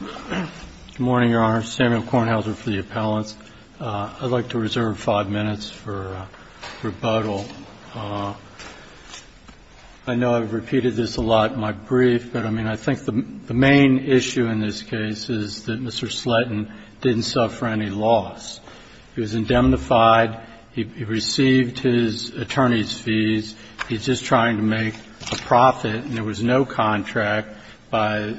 Good morning, Your Honor. Samuel Kornhauser for the appellants. I'd like to reserve five minutes for rebuttal. I know I've repeated this a lot in my brief, but I mean, I think the main issue in this case is that Mr. Sletten didn't suffer any loss. He was indemnified, he received his attorney's fees, he was just trying to make a profit, and there was no contract by his attorney.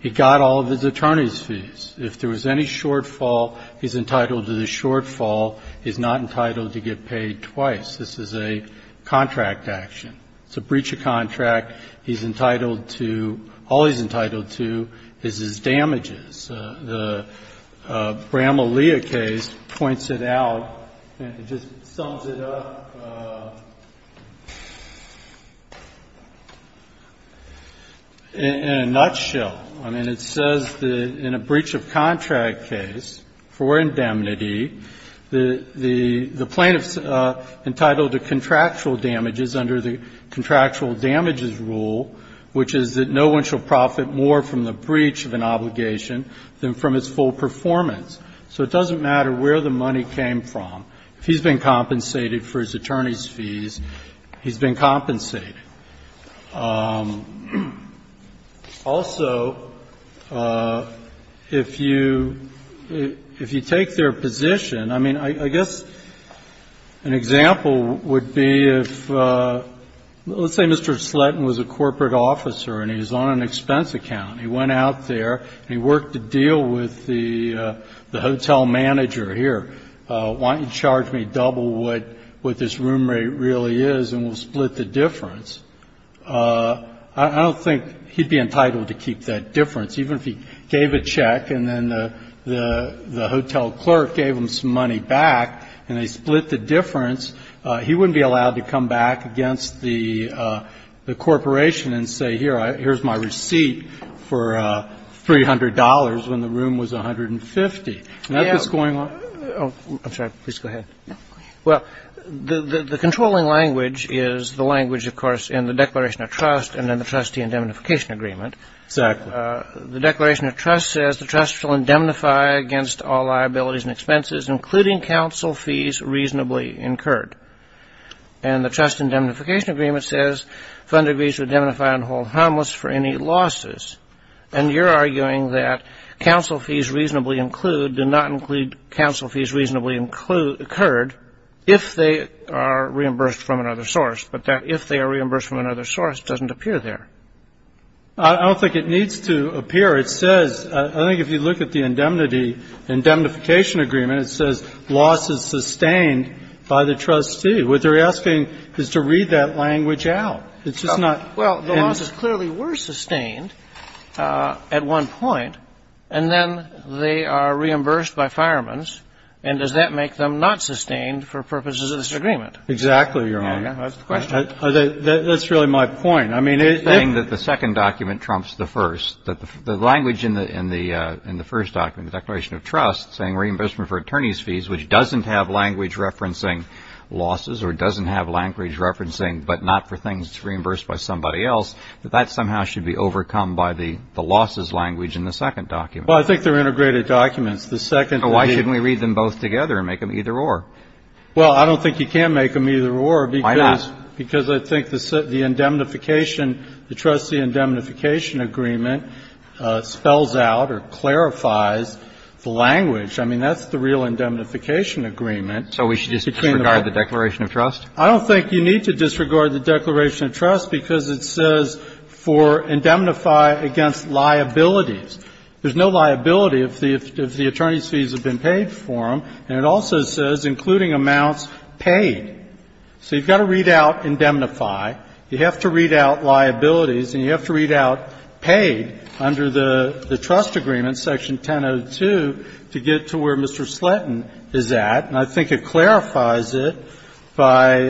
He got all of his attorney's fees. If there was any shortfall, he's entitled to the shortfall, he's not entitled to get paid twice. This is a contract action. It's a breach of contract. He's entitled to – all he's entitled to is his damages. The Bramalea case points it out and just sums it up in a nutshell. I mean, it says that in a breach of contract case, for indemnity, the plaintiff's entitled to contractual damages under the Contractual Damages Rule, which is that no one shall profit more from the breach of an obligation than from its full performance. So it doesn't matter where the money came from. If he's been compensated for his attorney's fees, he's been compensated. Also, if you take their position, I mean, I guess an example would be if, let's say Mr. Sletten was a corporate officer and he was on an expense account. He went out there and he worked a deal with the hotel manager here. Why don't you charge me double what this room rate really is and we'll split the difference? I don't think he'd be entitled to keep that difference. Even if he gave a check and then the hotel clerk gave him some money back and they split the difference, he wouldn't be allowed to come back against the corporation and say, here, here's my receipt for $300 when the room was 150. Not that's going on. I'm sorry. Please go ahead. Well, the controlling language is the language, of course, in the Declaration of Trust and then the trustee indemnification agreement. Exactly. The Declaration of Trust says the trust shall indemnify against all liabilities and expenses, including counsel fees reasonably incurred. And the trust indemnification agreement says fund agrees to indemnify and hold harmless for any losses. And you're arguing that counsel fees reasonably include, do not include counsel fees reasonably incurred if they are reimbursed from another source, but that if they are reimbursed from another source doesn't appear there. I don't think it needs to appear. It says, I think if you look at the indemnity, indemnification agreement, it says loss is sustained by the trustee. What they're asking is to read that language out. Well, the losses clearly were sustained at one point. And then they are reimbursed by firemen's. And does that make them not sustained for purposes of this agreement? Exactly, Your Honor. That's the question. That's really my point. Saying that the second document trumps the first. The language in the first document, the Declaration of Trust, saying reimbursement is referencing but not for things reimbursed by somebody else, that that somehow should be overcome by the losses language in the second document. Well, I think they're integrated documents. So why shouldn't we read them both together and make them either or? Well, I don't think you can make them either or. Why not? Because I think the indemnification, the trustee indemnification agreement spells out or clarifies the language. I mean, that's the real indemnification agreement. So we should disregard the Declaration of Trust? I don't think you need to disregard the Declaration of Trust because it says for indemnify against liabilities. There's no liability if the attorney's fees have been paid for them. And it also says including amounts paid. So you've got to read out indemnify. You have to read out liabilities. And you have to read out paid under the trust agreement, Section 1002, to get to where Mr. Sletton is at. And I think it clarifies it by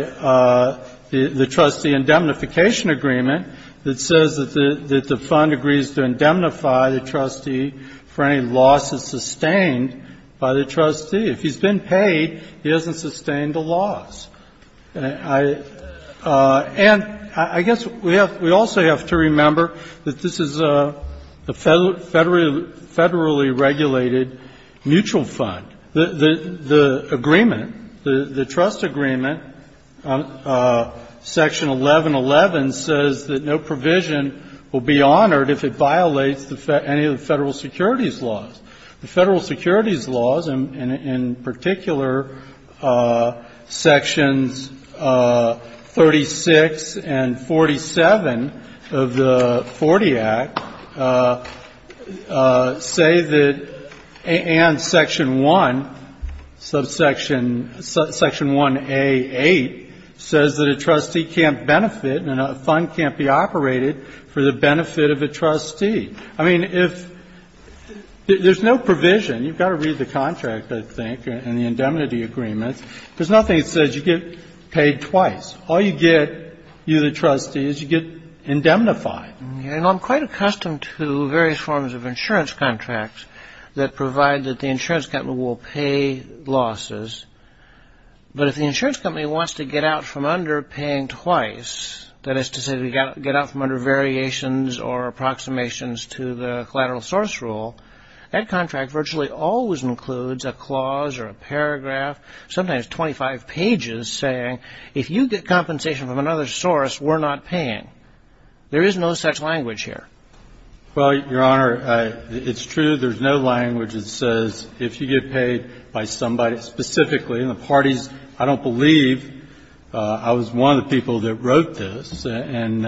the trustee indemnification agreement that says that the fund agrees to indemnify the trustee for any losses sustained by the trustee. If he's been paid, he hasn't sustained a loss. And I guess we also have to remember that this is a federally regulated mutual fund. The agreement, the trust agreement, Section 1111, says that no provision will be honored if it violates any of the Federal securities laws. The Federal securities laws, and in particular Sections 36 and 47 of the Forty Act, say that and Section 1, subsection, Section 1A.8, says that a trustee can't benefit and a fund can't be operated for the benefit of a trustee. I mean, if, there's no provision. You've got to read the contract, I think, and the indemnity agreements. There's nothing that says you get paid twice. All you get, you the trustee, is you get indemnified. You know, I'm quite accustomed to various forms of insurance contracts that provide that the insurance company will pay losses. But if the insurance company wants to get out from under paying twice, that is to say to get out from under variations or approximations to the collateral source rule, that contract virtually always includes a clause or a paragraph, sometimes 25 pages, saying if you get compensation from another source, we're not paying. There is no such language here. Well, Your Honor, it's true there's no language that says if you get paid by somebody, specifically in the parties, I don't believe. I was one of the people that wrote this. And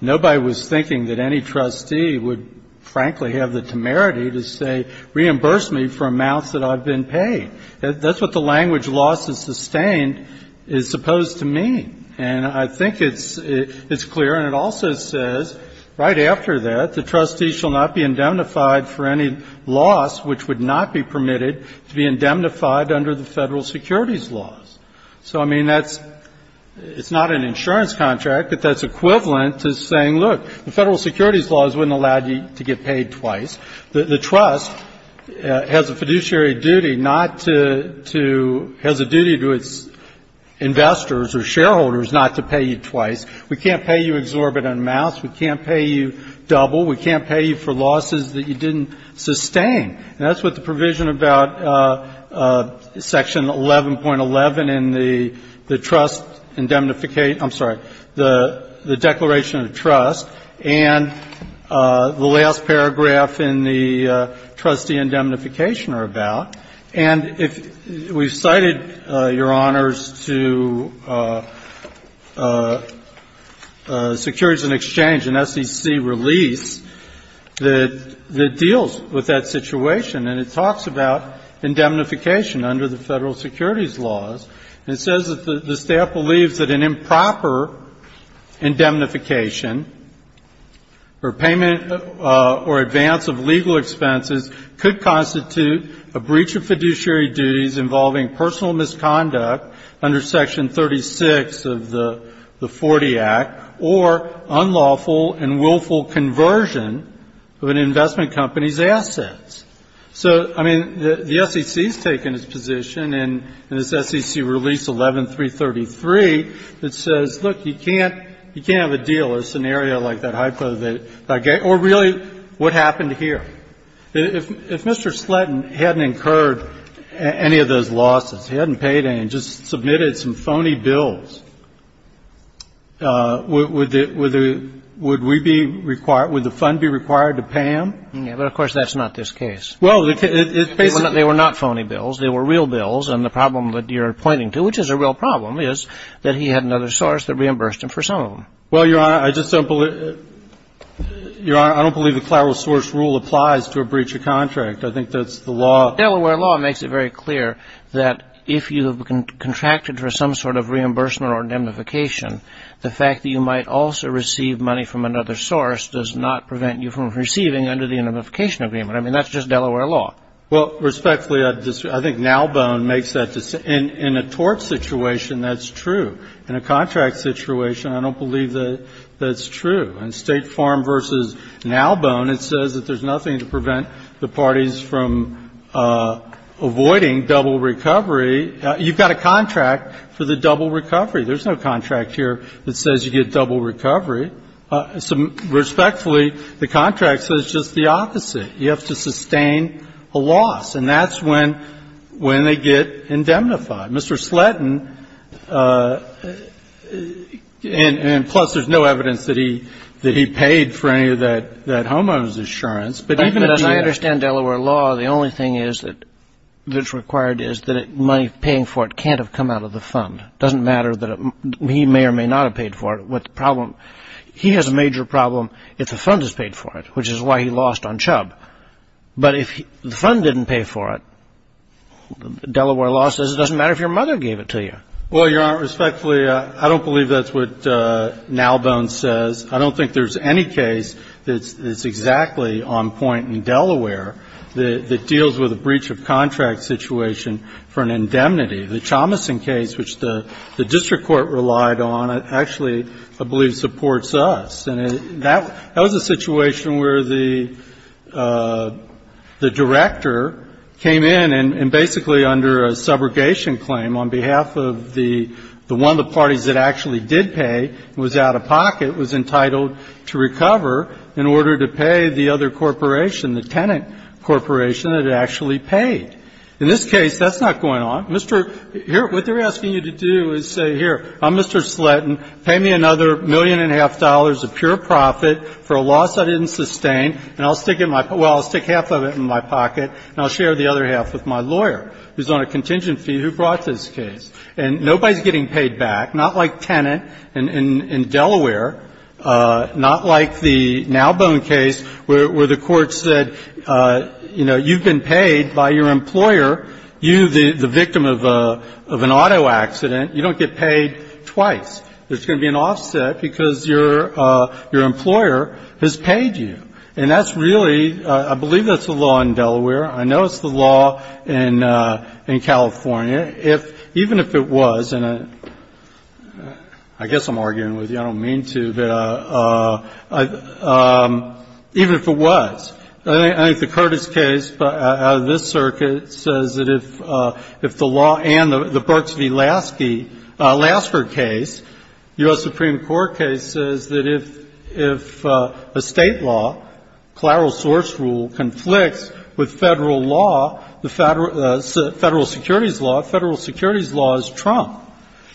nobody was thinking that any trustee would, frankly, have the temerity to say reimburse me for amounts that I've been paid. That's what the language, losses sustained, is supposed to mean. And I think it's clear, and it also says, right after that, the trustee shall not be indemnified for any loss which would not be permitted to be indemnified under the Federal securities laws. So, I mean, that's not an insurance contract, but that's equivalent to saying, look, the Federal securities laws wouldn't allow you to get paid twice. The trust has a fiduciary duty not to, has a duty to its investors or shareholders not to pay you twice. We can't pay you exorbitant amounts. We can't pay you double. We can't pay you for losses that you didn't sustain. And that's what the provision about section 11.11 in the trust indemnification ‑‑ I'm sorry, the Declaration of Trust and the last paragraph in the trustee indemnification are about. And we've cited, Your Honors, to Securities and Exchange, an SEC release that deals with that situation, and it talks about indemnification under the Federal securities laws. And it says that the staff believes that an improper indemnification or payment or advance of legal expenses could constitute a breach of fiduciary duties involving personal misconduct under section 36 of the Forty Act or unlawful and willful conversion of an investment company's assets. So, I mean, the SEC has taken its position in this SEC release 11.333 that says, look, you can't have a deal, a scenario like that, or really, what happened here? If Mr. Sletton hadn't incurred any of those losses, he hadn't paid any, just submitted some phony bills, would we be ‑‑ would the fund be required to pay him? Yeah. But, of course, that's not this case. Well, it basically ‑‑ They were not phony bills. They were real bills. And the problem that you're pointing to, which is a real problem, is that he had another source that reimbursed him for some of them. Well, Your Honor, I just don't believe ‑‑ Your Honor, I don't believe the clerical source rule applies to a breach of contract. I think that's the law. Delaware law makes it very clear that if you contracted for some sort of reimbursement or indemnification, the fact that you might also receive money from another source does not prevent you from receiving under the indemnification agreement. I mean, that's just Delaware law. Well, respectfully, I think Nalbone makes that decision. In a tort situation, that's true. In a contract situation, I don't believe that that's true. On State Farm v. Nalbone, it says that there's nothing to prevent the parties from avoiding double recovery. You've got a contract for the double recovery. There's no contract here that says you get double recovery. Respectfully, the contract says just the opposite. You have to sustain a loss. And that's when they get indemnified. Mr. Sletton, and plus there's no evidence that he paid for any of that homeowner's insurance, but even if he had. But as I understand Delaware law, the only thing that's required is that money paying for it can't have come out of the fund. It doesn't matter that he may or may not have paid for it. The problem, he has a major problem if the fund has paid for it, which is why he lost on Chubb. But if the fund didn't pay for it, Delaware law says it doesn't matter if you're paying for it. Your mother gave it to you. Well, Your Honor, respectfully, I don't believe that's what Nalbone says. I don't think there's any case that's exactly on point in Delaware that deals with a breach of contract situation for an indemnity. The Chomason case, which the district court relied on, actually I believe supports us. And that was a situation where the director came in and basically under a subrogation claim on behalf of the one of the parties that actually did pay, was out of pocket, was entitled to recover in order to pay the other corporation, the tenant corporation that had actually paid. In this case, that's not going on. Mr. Here, what they're asking you to do is say, here, I'm Mr. Sletton, pay me another million and a half dollars of pure profit for a loss I didn't sustain, and I'll stick in my pocket, well, I'll stick half of it in my pocket, and I'll share the other half with my lawyer who's on a contingent fee who brought this case. And nobody's getting paid back, not like tenant in Delaware, not like the Nalbone case where the court said, you know, you've been paid by your employer, you, the victim of an auto accident, you don't get paid twice. There's going to be an offset because your employer has paid you. And that's really, I believe that's the law in Delaware. I know it's the law in California. If, even if it was, and I guess I'm arguing with you. I don't mean to. But even if it was, I think the Curtis case out of this circuit says that if the law and the Burks v. Lasky, Lasker case, U.S. Supreme Court case, says that if a State law, plural source rule, conflicts with Federal law, Federal securities law, Federal securities law is trumped.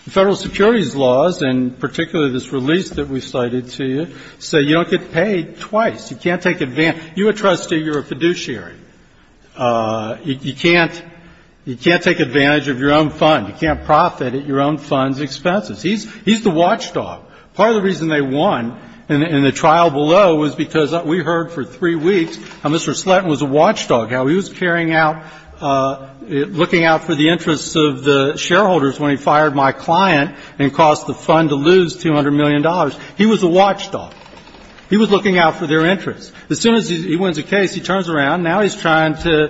Federal securities laws, and particularly this release that we cited to you, say you don't get paid twice. You can't take advantage. You're a trustee. You're a fiduciary. You can't take advantage of your own fund. You can't profit at your own fund's expenses. He's the watchdog. Part of the reason they won in the trial below was because we heard for three weeks how Mr. Slatton was a watchdog, how he was carrying out, looking out for the interests of the shareholders when he fired my client and caused the fund to lose $200 million. He was a watchdog. He was looking out for their interests. As soon as he wins a case, he turns around. Now he's trying to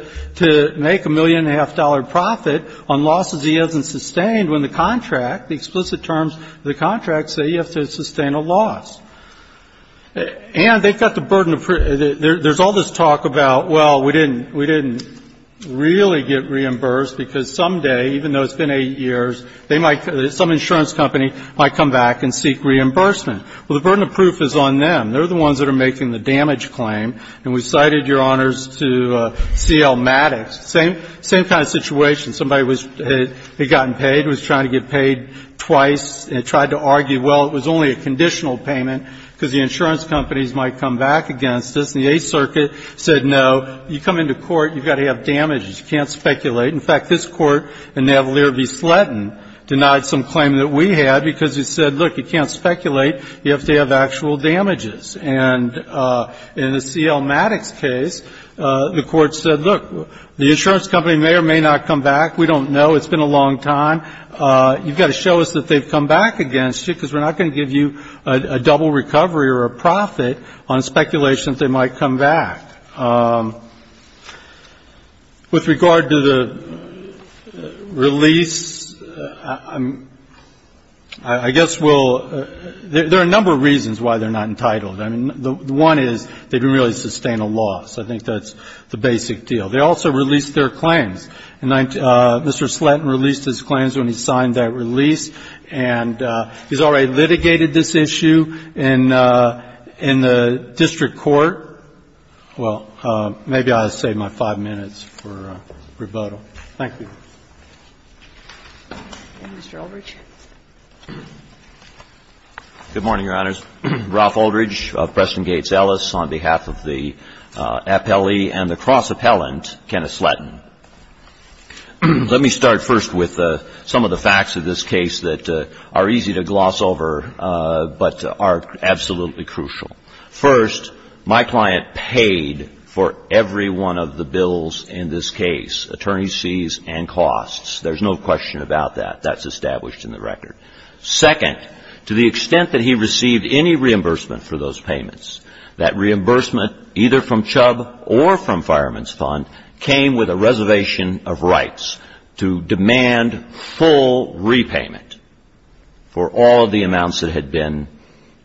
make a $1.5 million profit on losses he hasn't sustained when the contract, the explicit terms of the contract say you have to sustain a loss. And they've got the burden of proof. There's all this talk about, well, we didn't, we didn't really get reimbursed because someday, even though it's been eight years, they might, some insurance company might come back and seek reimbursement. Well, the burden of proof is on them. They're the ones that are making the damage claim. And we cited, Your Honors, to C.L. Maddox, same kind of situation. Somebody had gotten paid, was trying to get paid twice, tried to argue, well, it was only a conditional payment because the insurance companies might come back against us. And the Eighth Circuit said, no, you come into court, you've got to have damages. You can't speculate. In fact, this Court, in Navalier v. Sletton, denied some claim that we had because it said, look, you can't speculate. You have to have actual damages. And in the C.L. Maddox case, the Court said, look, the insurance company may or may not come back. We don't know. It's been a long time. You've got to show us that they've come back against you because we're not going to give you a double recovery or a profit on speculation that they might come back. With regard to the release, I guess we'll ‑‑ there are a number of reasons why they're not entitled. I mean, one is they didn't really sustain a loss. I think that's the basic deal. They also released their claims. And Mr. Sletton released his claims when he signed that release. And he's already litigated this issue in the district court. Well, maybe I'll save my five minutes for rebuttal. Thank you. Good morning, Your Honors. My name is Ralph Aldridge of Preston Gates Ellis on behalf of the appellee and the cross appellant, Kenneth Sletton. Let me start first with some of the facts of this case that are easy to gloss over but are absolutely crucial. First, my client paid for every one of the bills in this case, attorneys' fees and costs. There's no question about that. That's established in the record. Second, to the extent that he received any reimbursement for those payments, that reimbursement either from Chubb or from Fireman's Fund came with a reservation of rights to demand full repayment for all of the amounts that had been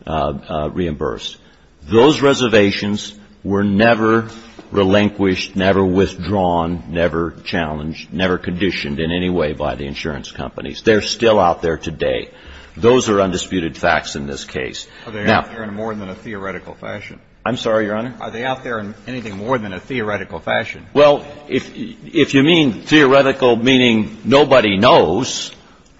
reimbursed. Those reservations were never relinquished, never withdrawn, never challenged, never conditioned in any way by the insurance companies. They're still out there today. Those are undisputed facts in this case. Are they out there in more than a theoretical fashion? I'm sorry, Your Honor? Are they out there in anything more than a theoretical fashion? Well, if you mean theoretical, meaning nobody knows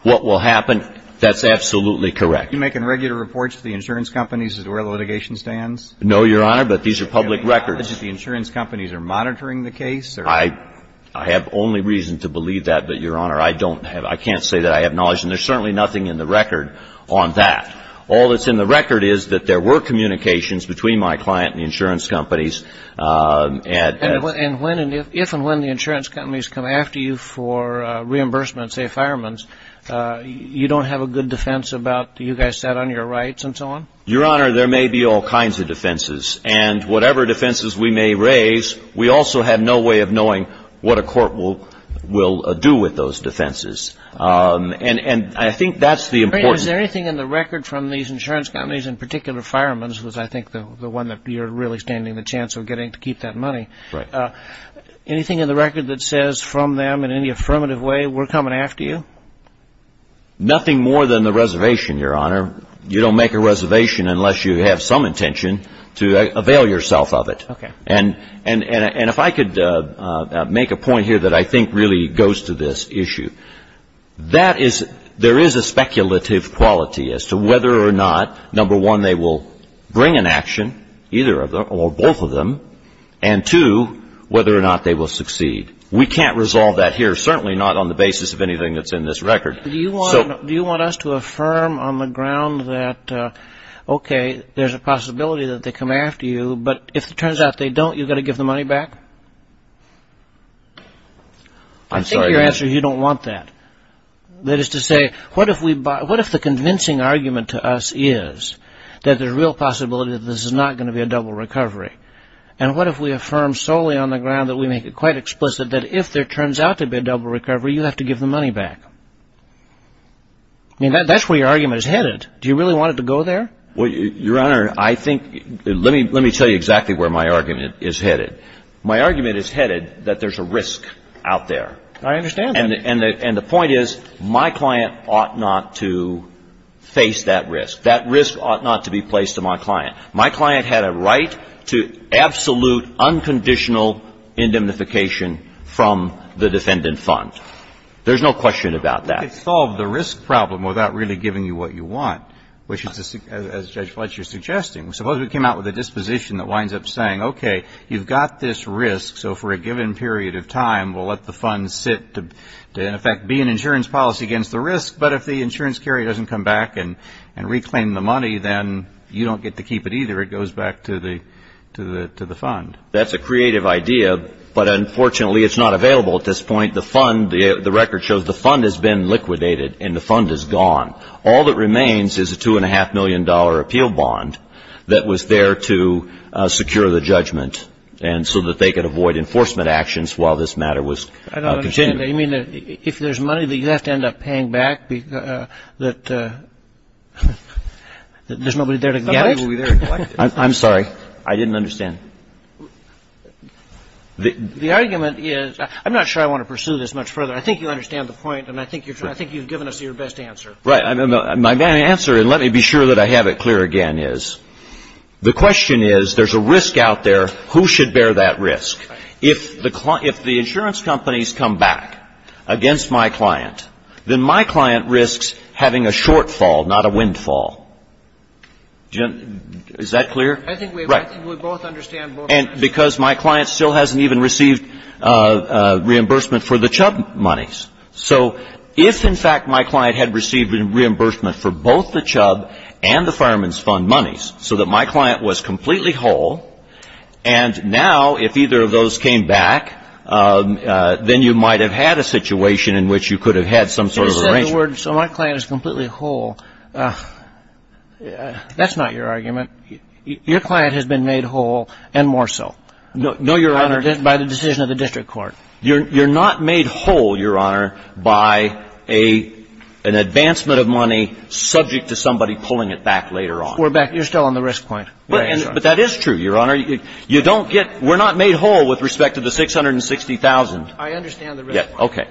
what will happen, that's absolutely correct. Are you making regular reports to the insurance companies as to where the litigation stands? No, Your Honor, but these are public records. Do you have any knowledge that the insurance companies are monitoring the case? I have only reason to believe that, but, Your Honor, I can't say that I have knowledge, and there's certainly nothing in the record on that. All that's in the record is that there were communications between my client and the insurance companies. And if and when the insurance companies come after you for reimbursement, say Fireman's, you don't have a good defense about you guys sat on your rights and so on? Your Honor, there may be all kinds of defenses, and whatever defenses we may raise, we also have no way of knowing what a court will do with those defenses. And I think that's the important... Is there anything in the record from these insurance companies, in particular Fireman's, which I think is the one that you're really standing the chance of getting to keep that money, anything in the record that says from them in any affirmative way, we're coming after you? Nothing more than the reservation, Your Honor. You don't make a reservation unless you have some intention to avail yourself of it. Okay. And if I could make a point here that I think really goes to this issue, that is, there is a speculative quality as to whether or not, number one, they will bring an action, either or both of them, and two, whether or not they will succeed. We can't resolve that here, certainly not on the basis of anything that's in this record. Do you want us to affirm on the ground that, okay, there's a possibility that they come after you, but if it turns out they don't, you're going to give the money back? I think your answer is you don't want that. That is to say, what if the convincing argument to us is that there's a real possibility that this is not going to be a double recovery? And what if we affirm solely on the ground that we make it quite explicit that if there turns out to be a double recovery, you have to give the money back? I mean, that's where your argument is headed. Do you really want it to go there? Well, Your Honor, I think — let me tell you exactly where my argument is headed. My argument is headed that there's a risk out there. I understand that. And the point is my client ought not to face that risk. That risk ought not to be placed on my client. My client had a right to absolute, unconditional indemnification from the defendant fund. There's no question about that. But you can't solve the risk problem without really giving you what you want, which is, as Judge Fletcher is suggesting. Suppose we came out with a disposition that winds up saying, okay, you've got this risk, so for a given period of time we'll let the fund sit to, in effect, be an insurance policy against the risk. But if the insurance carrier doesn't come back and reclaim the money, then you don't get to keep it either. It goes back to the fund. That's a creative idea, but unfortunately it's not available at this point. The fund, the record shows the fund has been liquidated and the fund is gone. All that remains is a $2.5 million appeal bond that was there to secure the judgment and so that they could avoid enforcement actions while this matter was continuing. I don't understand. You mean if there's money that you have to end up paying back, that there's nobody there to collect? Nobody will be there to collect it. I'm sorry. I didn't understand. The argument is, I'm not sure I want to pursue this much further. I think you understand the point and I think you've given us your best answer. Right. My answer, and let me be sure that I have it clear again, is the question is there's a risk out there. Who should bear that risk? If the insurance companies come back against my client, then my client risks having a shortfall, not a windfall. Is that clear? Right. I think we both understand both. And because my client still hasn't even received reimbursement for the Chubb monies. So if in fact my client had received reimbursement for both the Chubb and the Fireman's Fund monies, so that my client was completely whole, and now if either of those came back, then you might have had a situation in which you could have had some sort of arrangement. You said the word, so my client is completely whole. That's not your argument. Your client has been made whole and more so. No, Your Honor. By the decision of the district court. You're not made whole, Your Honor, by an advancement of money subject to somebody pulling it back later on. You're still on the risk point. But that is true, Your Honor. You don't get, we're not made whole with respect to the $660,000. I understand the risk. Okay.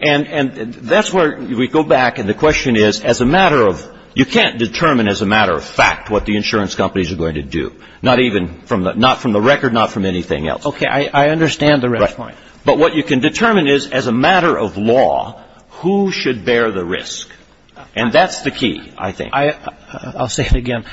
And that's where we go back and the question is, as a matter of, you can't determine as a matter of fact what the insurance companies are going to do. Not even, not from the record, not from anything else. Okay. I understand the risk point. Right. But what you can determine is, as a matter of law, who should bear the risk. And that's the key, I think. I'll say it again.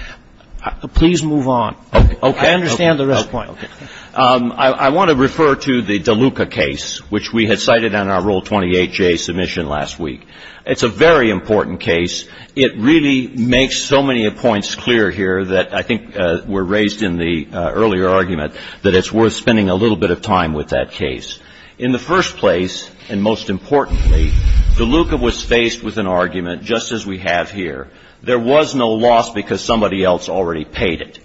Please move on. Okay. I understand the risk point. Okay. I want to refer to the DeLuca case, which we had cited on our Rule 28J submission last week. It's a very important case. It really makes so many points clear here that I think were raised in the earlier argument that it's worth spending a little bit of time with that case. In the first place, and most importantly, DeLuca was faced with an argument just as we have here. There was no loss because somebody else already paid it.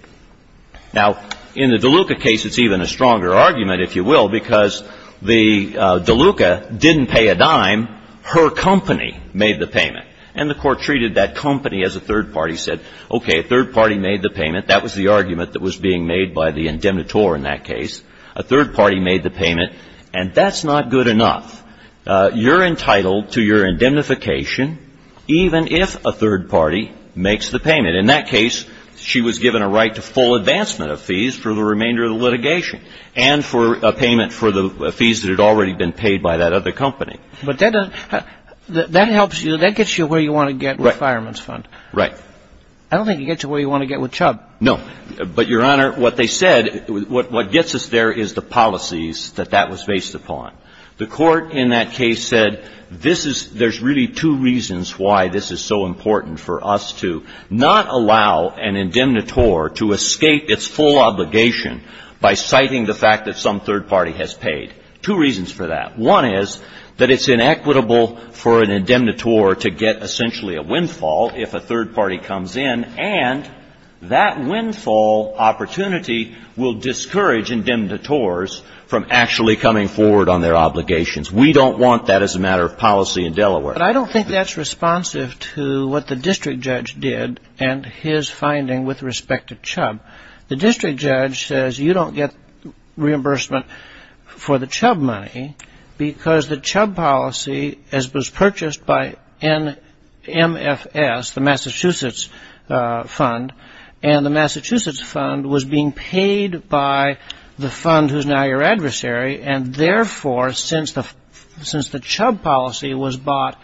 Now, in the DeLuca case, it's even a stronger argument, if you will, because the DeLuca didn't pay a dime. Her company made the payment. And the Court treated that company as a third party, said, okay, a third party made the payment. That was the argument that was being made by the indemnitor in that case. A third party made the payment. And that's not good enough. You're entitled to your indemnification even if a third party makes the payment. In that case, she was given a right to full advancement of fees for the remainder of the litigation and for a payment for the fees that had already been paid by that other company. But that helps you, that gets you where you want to get with Fireman's Fund. Right. I don't think it gets you where you want to get with Chubb. No. But, Your Honor, what they said, what gets us there is the policies that that was based upon. The Court in that case said this is, there's really two reasons why this is so important for us to not allow an indemnitor to escape its full obligation by citing the fact that some third party has paid. Two reasons for that. One is that it's inequitable for an indemnitor to get essentially a windfall if a third party comes in. And that windfall opportunity will discourage indemnitors from actually coming forward on their obligations. We don't want that as a matter of policy in Delaware. But I don't think that's responsive to what the district judge did and his finding with respect to Chubb. The district judge says you don't get reimbursement for the Chubb money because the Chubb policy, as it was purchased by NMFS, the Massachusetts Fund, and the Massachusetts Fund was being paid by the fund who's now your adversary. And therefore, since the Chubb policy was bought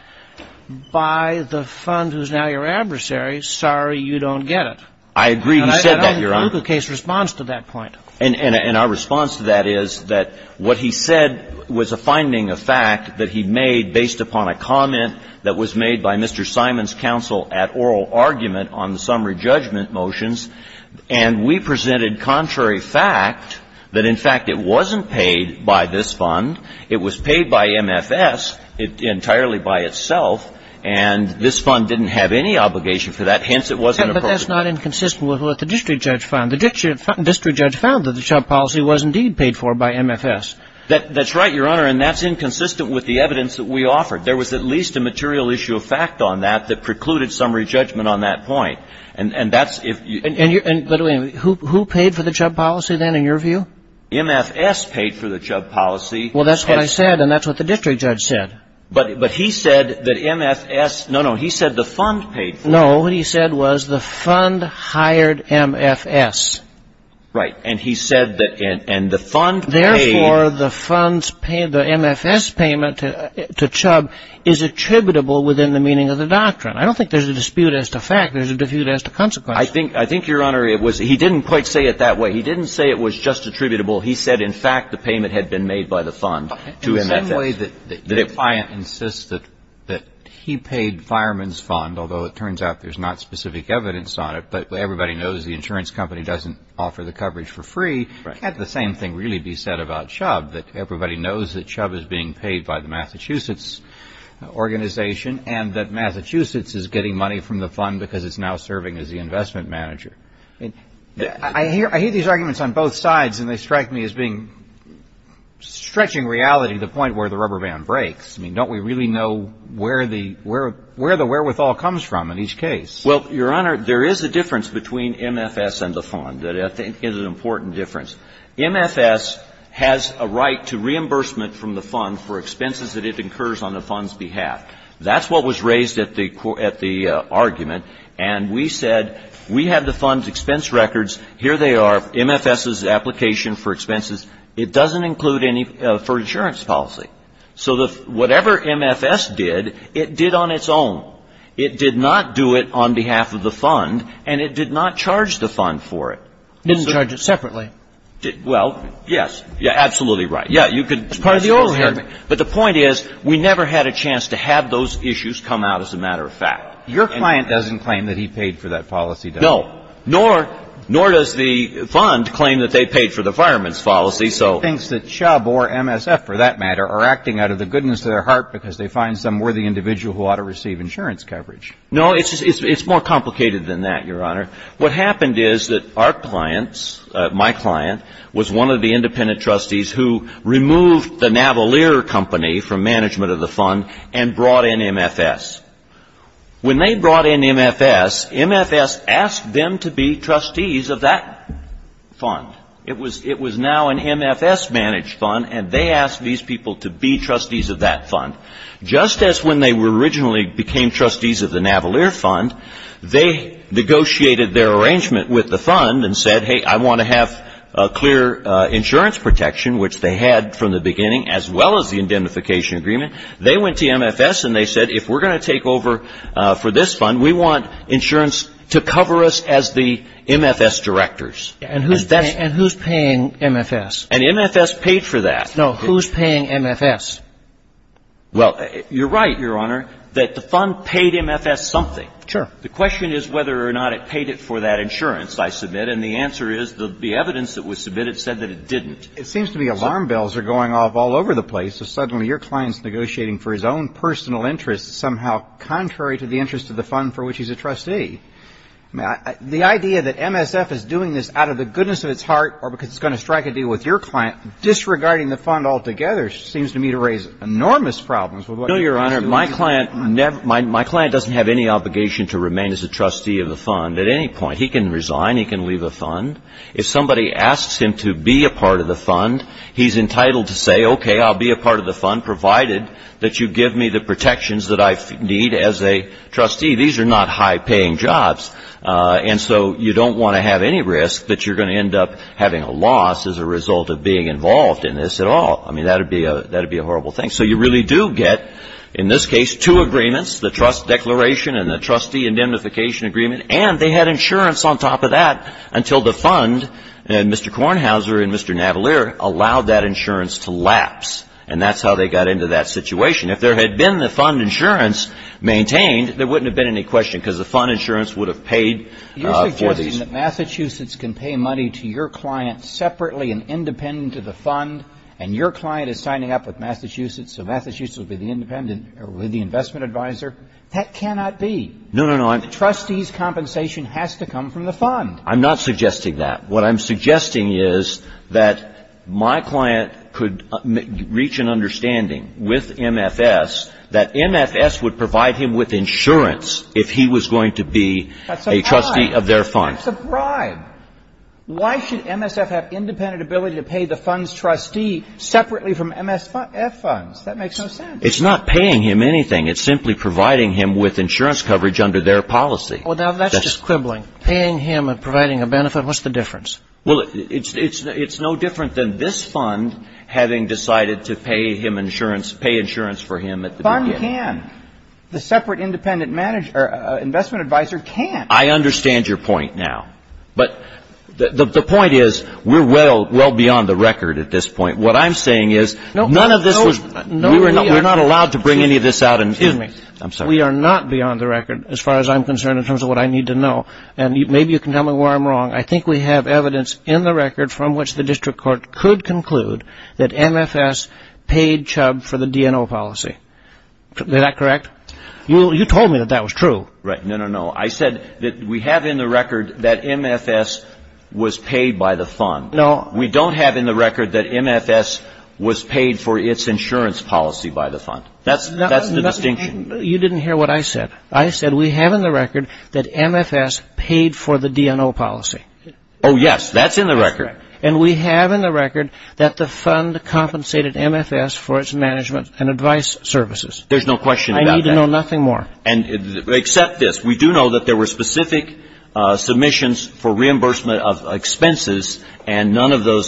by the fund who's now your adversary, sorry, you don't get it. I agree he said that, Your Honor. But I think the Kaluga case responds to that point. And our response to that is that what he said was a finding of fact that he made based upon a comment that was made by Mr. Simon's counsel at oral argument on the summary judgment motions, and we presented contrary fact that, in fact, it wasn't paid by this fund, it was paid by MFS entirely by itself, and this fund didn't have any obligation for that, hence it wasn't appropriate. But that's not inconsistent with what the district judge found. The district judge found that the Chubb policy was indeed paid for by MFS. That's right, Your Honor, and that's inconsistent with the evidence that we offered. There was at least a material issue of fact on that that precluded summary judgment on that point. And that's if you – And who paid for the Chubb policy then in your view? MFS paid for the Chubb policy. Well, that's what I said, and that's what the district judge said. But he said that MFS – no, no, he said the fund paid for it. No, what he said was the fund hired MFS. Right. And he said that – and the fund paid – Therefore, the fund's – the MFS payment to Chubb is attributable within the meaning of the doctrine. I don't think there's a dispute as to fact. There's a dispute as to consequence. I think, Your Honor, it was – he didn't quite say it that way. He didn't say it was just attributable. He said, in fact, the payment had been made by the fund to MFS. The client insists that he paid Fireman's Fund, although it turns out there's not specific evidence on it, but everybody knows the insurance company doesn't offer the coverage for free. Right. Can't the same thing really be said about Chubb, that everybody knows that Chubb is being paid by the Massachusetts organization and that Massachusetts is getting money from the fund because it's now serving as the investment manager? I hear these arguments on both sides, and they strike me as being – stretching reality to the point where the rubber band breaks. I mean, don't we really know where the – where the wherewithal comes from in each case? Well, Your Honor, there is a difference between MFS and the fund that I think is an important difference. MFS has a right to reimbursement from the fund for expenses that it incurs on the fund's behalf. That's what was raised at the – at the argument, and we said we have the fund's expense records. Here they are, MFS's application for expenses. It doesn't include any – for insurance policy. So the – whatever MFS did, it did on its own. It did not do it on behalf of the fund, and it did not charge the fund for it. It didn't charge it separately. Well, yes. Absolutely right. Yeah, you could – It's part of the oral argument. But the point is we never had a chance to have those issues come out as a matter of fact. Your client doesn't claim that he paid for that policy, does he? No. Nor does the fund claim that they paid for the fireman's policy, so – He thinks that Chubb or MSF, for that matter, are acting out of the goodness of their heart because they find some worthy individual who ought to receive insurance coverage. No, it's more complicated than that, Your Honor. What happened is that our clients – my client was one of the independent trustees who removed the Navalier company from management of the fund and brought in MFS. When they brought in MFS, MFS asked them to be trustees of that fund. It was now an MFS-managed fund, and they asked these people to be trustees of that fund. Just as when they originally became trustees of the Navalier fund, they negotiated their arrangement with the fund and said, hey, I want to have clear insurance protection, which they had from the beginning, as well as the indemnification agreement. They went to MFS and they said, if we're going to take over for this fund, we want insurance to cover us as the MFS directors. And who's paying MFS? And MFS paid for that. No. Who's paying MFS? Well, you're right, Your Honor, that the fund paid MFS something. Sure. The question is whether or not it paid it for that insurance, I submit, and the answer is the evidence that was submitted said that it didn't. It seems to me alarm bells are going off all over the place. So suddenly your client's negotiating for his own personal interests somehow contrary to the interest of the fund for which he's a trustee. The idea that MSF is doing this out of the goodness of its heart or because it's going to strike a deal with your client, disregarding the fund altogether, seems to me to raise enormous problems with what you're trying to do. No, Your Honor. My client doesn't have any obligation to remain as a trustee of the fund at any point. He can resign. He can leave the fund. If somebody asks him to be a part of the fund, he's entitled to say, okay, I'll be a part of the fund provided that you give me the protections that I need as a trustee. These are not high-paying jobs. And so you don't want to have any risk that you're going to end up having a loss as a result of being involved in this at all. I mean, that would be a horrible thing. So you really do get, in this case, two agreements, the trust declaration and the trustee Mr. Kornhauser and Mr. Navalier allowed that insurance to lapse. And that's how they got into that situation. If there had been the fund insurance maintained, there wouldn't have been any question because the fund insurance would have paid for these. You're suggesting that Massachusetts can pay money to your client separately and independent of the fund, and your client is signing up with Massachusetts, so Massachusetts would be the independent or with the investment advisor? That cannot be. The trustee's compensation has to come from the fund. I'm not suggesting that. What I'm suggesting is that my client could reach an understanding with MFS that MFS would provide him with insurance if he was going to be a trustee of their fund. That's a bribe. That's a bribe. Why should MSF have independent ability to pay the fund's trustee separately from MSF funds? That makes no sense. It's not paying him anything. It's simply providing him with insurance coverage under their policy. Well, that's just quibbling. Paying him and providing a benefit, what's the difference? Well, it's no different than this fund having decided to pay him insurance, pay insurance for him at the beginning. The fund can. The separate independent investment advisor can. I understand your point now. But the point is we're well beyond the record at this point. What I'm saying is none of this was we were not allowed to bring any of this out. Excuse me. I'm sorry. I think we are not beyond the record as far as I'm concerned in terms of what I need to know. And maybe you can tell me where I'm wrong. I think we have evidence in the record from which the district court could conclude that MFS paid Chubb for the DNO policy. Is that correct? You told me that that was true. Right. No, no, no. I said that we have in the record that MFS was paid by the fund. No. We don't have in the record that MFS was paid for its insurance policy by the fund. That's the distinction. You didn't hear what I said. I said we have in the record that MFS paid for the DNO policy. Oh, yes. That's in the record. And we have in the record that the fund compensated MFS for its management and advice services. There's no question about that. I need to know nothing more. Except this. We do know that there were specific submissions for reimbursement of expenses and none of So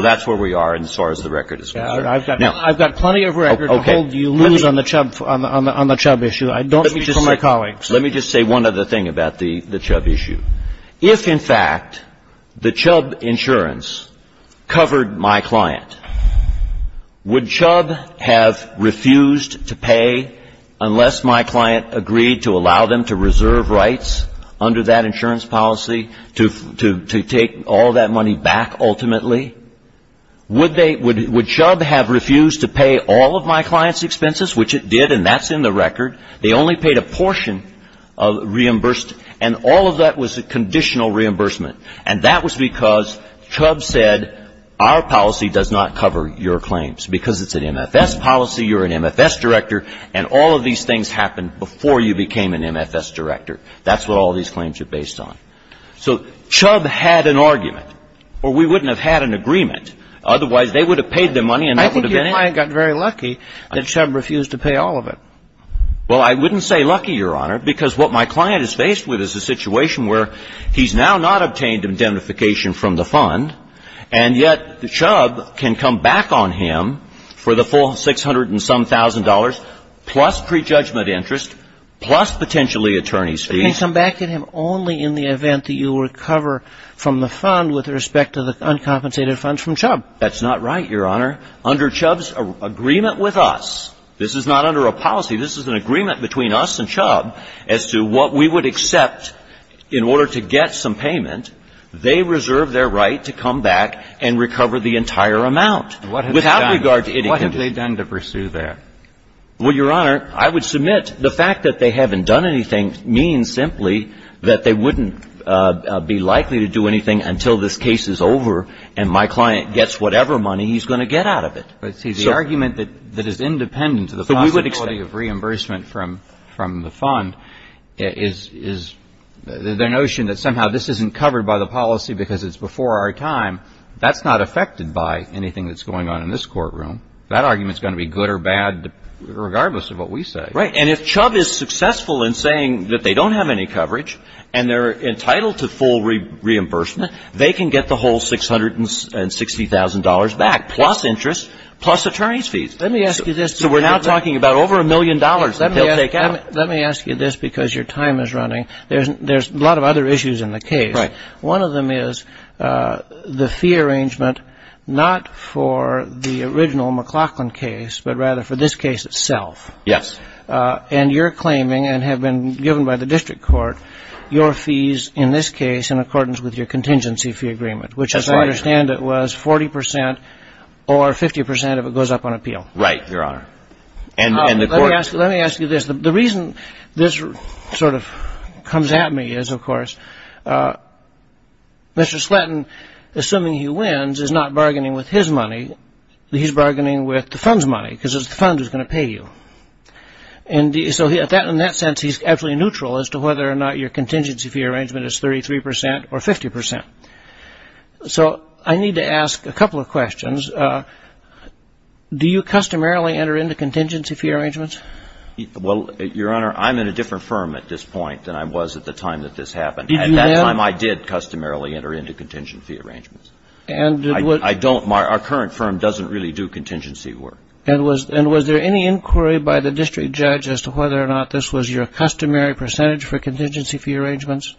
that's where we are as far as the record is concerned. I've got plenty of record to hold you loose on the Chubb issue. I don't speak for my colleagues. Let me just say one other thing about the Chubb issue. If, in fact, the Chubb insurance covered my client, would Chubb have refused to pay unless my client agreed to allow them to reserve rights under that insurance policy to take all that money back ultimately? Would Chubb have refused to pay all of my client's expenses, which it did, and that's in the record? They only paid a portion of reimbursed, and all of that was a conditional reimbursement. And that was because Chubb said our policy does not cover your claims. Because it's an MFS policy, you're an MFS director, and all of these things happened before you became an MFS director. That's what all these claims are based on. So Chubb had an argument, or we wouldn't have had an agreement. Otherwise, they would have paid their money, and that would have been it. I think your client got very lucky that Chubb refused to pay all of it. Well, I wouldn't say lucky, Your Honor, because what my client is faced with is a situation where he's now not obtained indemnification from the fund, and yet Chubb can come back on him for the full $600-and-some-thousand, plus prejudgment interest, plus potentially attorney's fees. You can come back to him only in the event that you recover from the fund with respect to the uncompensated funds from Chubb. That's not right, Your Honor. Under Chubb's agreement with us, this is not under a policy. This is an agreement between us and Chubb as to what we would accept in order to get some payment. They reserve their right to come back and recover the entire amount. And what have they done? With regard to it, it can be. What have they done to pursue that? Well, Your Honor, I would submit the fact that they haven't done anything means simply that they wouldn't be likely to do anything until this case is over and my client gets whatever money he's going to get out of it. But, see, the argument that is independent of the possibility of reimbursement from the fund is their notion that somehow this isn't covered by the policy because it's before our time. That's not affected by anything that's going on in this courtroom. That argument is going to be good or bad regardless of what we say. Right. And if Chubb is successful in saying that they don't have any coverage and they're entitled to full reimbursement, they can get the whole $660,000 back, plus interest, plus attorney's fees. Let me ask you this. So we're now talking about over a million dollars that they'll take out. Let me ask you this because your time is running. There's a lot of other issues in the case. Right. One of them is the fee arrangement not for the original McLaughlin case but rather for this case itself. Yes. And you're claiming and have been given by the district court your fees in this case in accordance with your contingency fee agreement, which, as I understand it, was 40 percent or 50 percent if it goes up on appeal. Right, Your Honor. Let me ask you this. The reason this sort of comes at me is, of course, Mr. Slatton, assuming he wins, is not bargaining with his money. He's bargaining with the fund's money because it's the fund who's going to pay you. And so in that sense, he's absolutely neutral as to whether or not your contingency fee arrangement is 33 percent or 50 percent. So I need to ask a couple of questions. Do you customarily enter into contingency fee arrangements? Well, Your Honor, I'm in a different firm at this point than I was at the time that this happened. Did you then? At that time, I did customarily enter into contingency fee arrangements. I don't. Our current firm doesn't really do contingency work. And was there any inquiry by the district judge as to whether or not this was your customary percentage for contingency fee arrangements?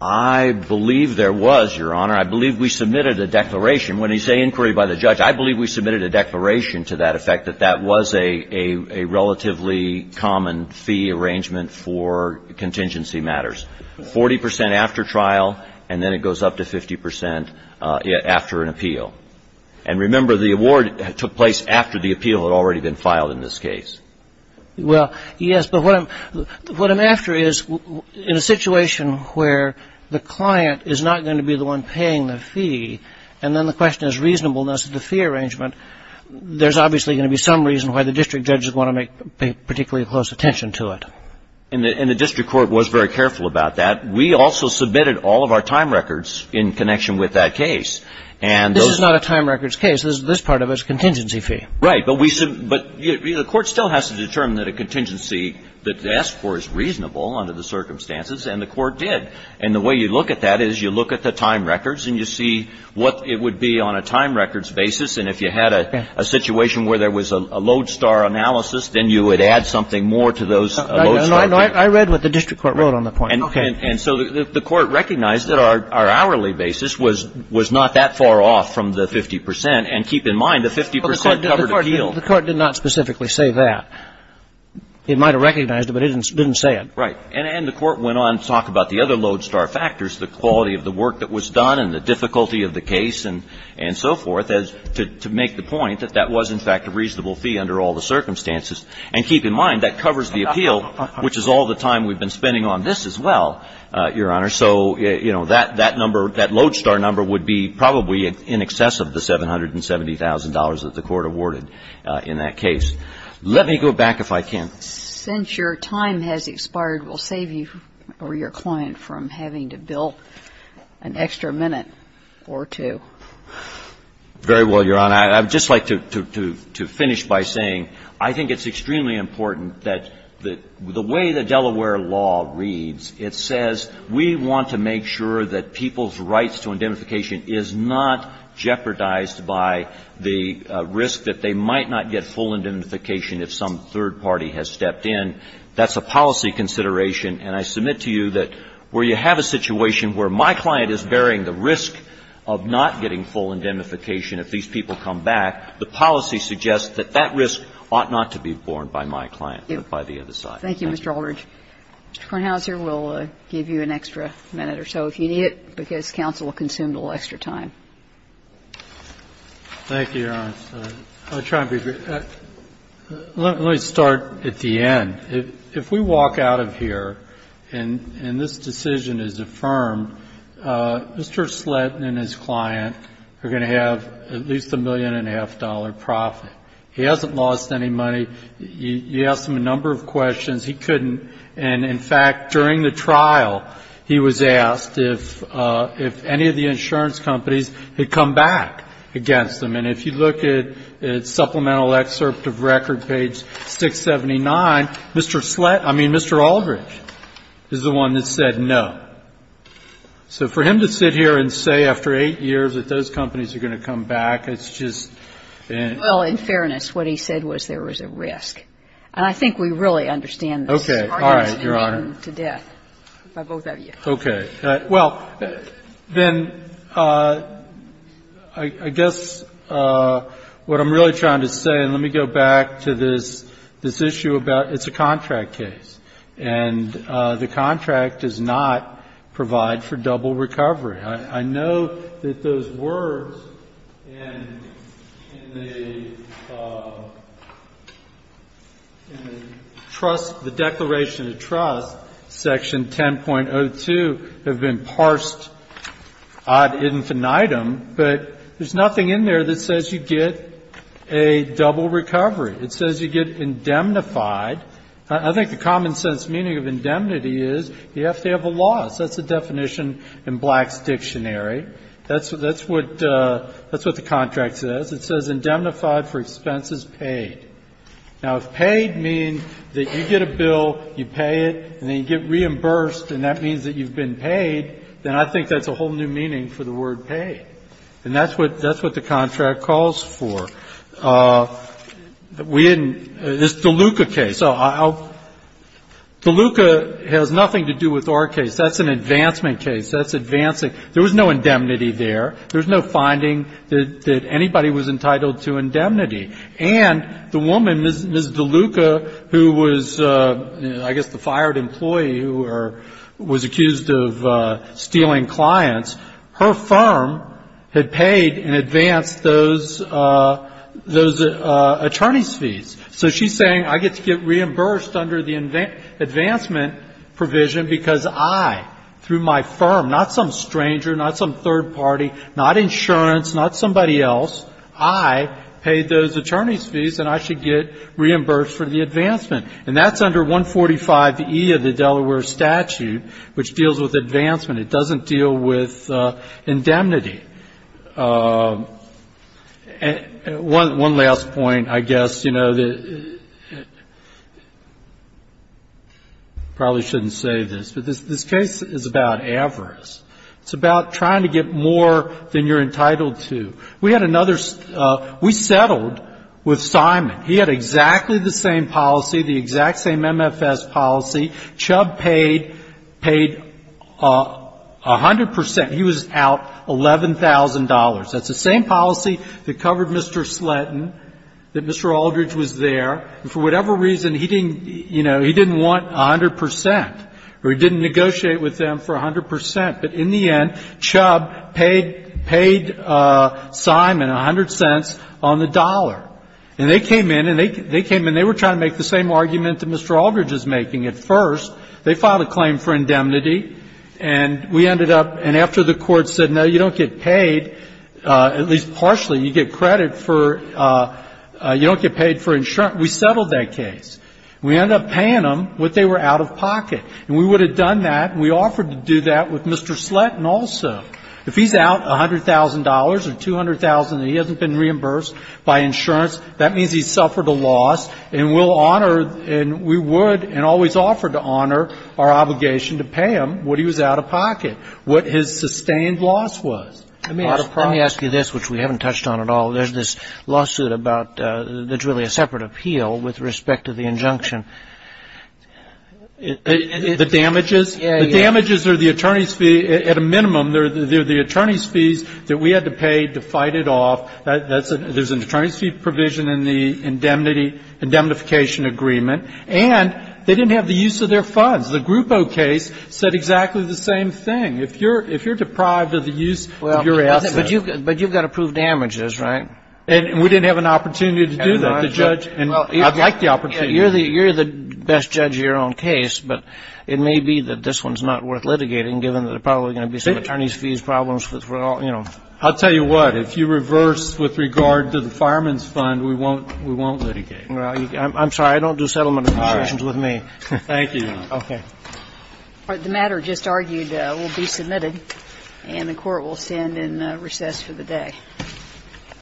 I believe there was, Your Honor. I believe we submitted a declaration. When you say inquiry by the judge, I believe we submitted a declaration to that effect that that was a relatively common fee arrangement for contingency matters. Forty percent after trial, and then it goes up to 50 percent after an appeal. And remember, the award took place after the appeal had already been filed in this case. Well, yes, but what I'm after is in a situation where the client is not going to be the one paying the fee and then the question is reasonableness of the fee arrangement, there's obviously going to be some reason why the district judges want to make particularly close attention to it. And the district court was very careful about that. We also submitted all of our time records in connection with that case. This is not a time records case. This part of it is contingency fee. Right, but the court still has to determine that a contingency that they ask for is reasonable under the circumstances, and the court did. And the way you look at that is you look at the time records and you see what it would be on a time records basis, and if you had a situation where there was a lodestar analysis, then you would add something more to those lodestar. I read what the district court wrote on the point. Okay. And so the court recognized that our hourly basis was not that far off from the 50 percent, and keep in mind the 50 percent covered appeal. The court did not specifically say that. It might have recognized it, but it didn't say it. Right. And the court went on to talk about the other lodestar factors, the quality of the work that was done and the difficulty of the case and so forth, as to make the point that that was, in fact, a reasonable fee under all the circumstances. And keep in mind that covers the appeal, which is all the time we've been spending on this as well, Your Honor. So, you know, that number, that lodestar number would be probably in excess of the $770,000 that the court awarded in that case. Let me go back if I can. Since your time has expired, we'll save you or your client from having to bill an extra minute or two. Very well, Your Honor. I'd just like to finish by saying I think it's extremely important that the way the Delaware law reads, it says we want to make sure that people's rights to indemnification is not jeopardized by the risk that they might not get full indemnification if some third party has stepped in. That's a policy consideration. And I submit to you that where you have a situation where my client is bearing the risk of not getting full indemnification if these people come back, the policy suggests that that risk ought not to be borne by my client, but by the other side. Thank you, Mr. Aldridge. Mr. Kornhauser, we'll give you an extra minute or so if you need it, because counsel will consume a little extra time. Thank you, Your Honor. I'll try and be brief. Let me start at the end. If we walk out of here and this decision is affirmed, Mr. Sletten and his client are going to have at least a million and a half dollar profit. He hasn't lost any money. You asked him a number of questions. He couldn't. And in fact, during the trial, he was asked if any of the insurance companies had come back against him. And if you look at supplemental excerpt of record, page 679, Mr. Sletten Mr. Aldridge is the one that said no. So for him to sit here and say after eight years that those companies are going to come back, it's just and Well, in fairness, what he said was there was a risk. And I think we really understand this. All right, Your Honor. Okay. Well, then I guess what I'm really trying to say, and let me go back to this issue about it's a contract case. And the contract does not provide for double recovery. I know that those words in the declaration of trust, section 10.02, have been parsed ad infinitum. But there's nothing in there that says you get a double recovery. It says you get indemnified. I think the common sense meaning of indemnity is you have to have a loss. That's the definition in Black's dictionary. That's what the contract says. It says indemnified for expenses paid. Now, if paid means that you get a bill, you pay it, and then you get reimbursed and that means that you've been paid, then I think that's a whole new meaning for the word paid. And that's what the contract calls for. We didn't This DeLuca case. DeLuca has nothing to do with our case. That's an advancement case. That's advancing. There was no indemnity there. There was no finding that anybody was entitled to indemnity. And the woman, Ms. DeLuca, who was, I guess, the fired employee who was accused of stealing clients, her firm had paid and advanced those attorneys' fees. So she's saying I get to get reimbursed under the advancement provision because I, through my firm, not some stranger, not some third party, not insurance, not somebody else, I paid those attorneys' fees and I should get reimbursed for the advancement. And that's under 145E of the Delaware statute, which deals with advancement. It doesn't deal with indemnity. One last point, I guess. You know, probably shouldn't say this, but this case is about avarice. It's about trying to get more than you're entitled to. We had another We settled with Simon. He had exactly the same policy, the exact same MFS policy. Chubb paid, paid 100 percent. He was out $11,000. That's the same policy that covered Mr. Sletton, that Mr. Aldridge was there. And for whatever reason, he didn't, you know, he didn't want 100 percent or he didn't negotiate with them for 100 percent. But in the end, Chubb paid, paid Simon 100 cents on the dollar. And they came in and they came in and they were trying to make the same argument that Mr. Aldridge was making at first. They filed a claim for indemnity. And we ended up, and after the Court said, no, you don't get paid, at least partially, you get credit for, you don't get paid for insurance, we settled that case. We ended up paying them what they were out of pocket. And we would have done that, and we offered to do that with Mr. Sletton also. If he's out $100,000 or $200,000 and he hasn't been reimbursed by insurance, that means he suffered a loss. And we'll honor, and we would and always offered to honor our obligation to pay him what he was out of pocket, what his sustained loss was. I mean, out of pocket. Let me ask you this, which we haven't touched on at all. There's this lawsuit about, that's really a separate appeal with respect to the injunction. The damages? Yeah, yeah. The damages are the attorney's fee. At a minimum, they're the attorney's fees that we had to pay to fight it off. There's an attorney's fee provision in the indemnity, indemnification agreement. And they didn't have the use of their funds. The Grupo case said exactly the same thing. If you're deprived of the use of your assets. But you've got approved damages, right? And we didn't have an opportunity to do that. The judge, and I'd like the opportunity. You're the best judge of your own case, but it may be that this one's not worth litigating, given that there are probably going to be some attorney's fees problems, you know. I'll tell you what. If you reverse with regard to the fireman's fund, we won't litigate. I'm sorry. I don't do settlement negotiations with me. Thank you, Your Honor. Okay. The matter just argued will be submitted. And the Court will stand in recess for the day.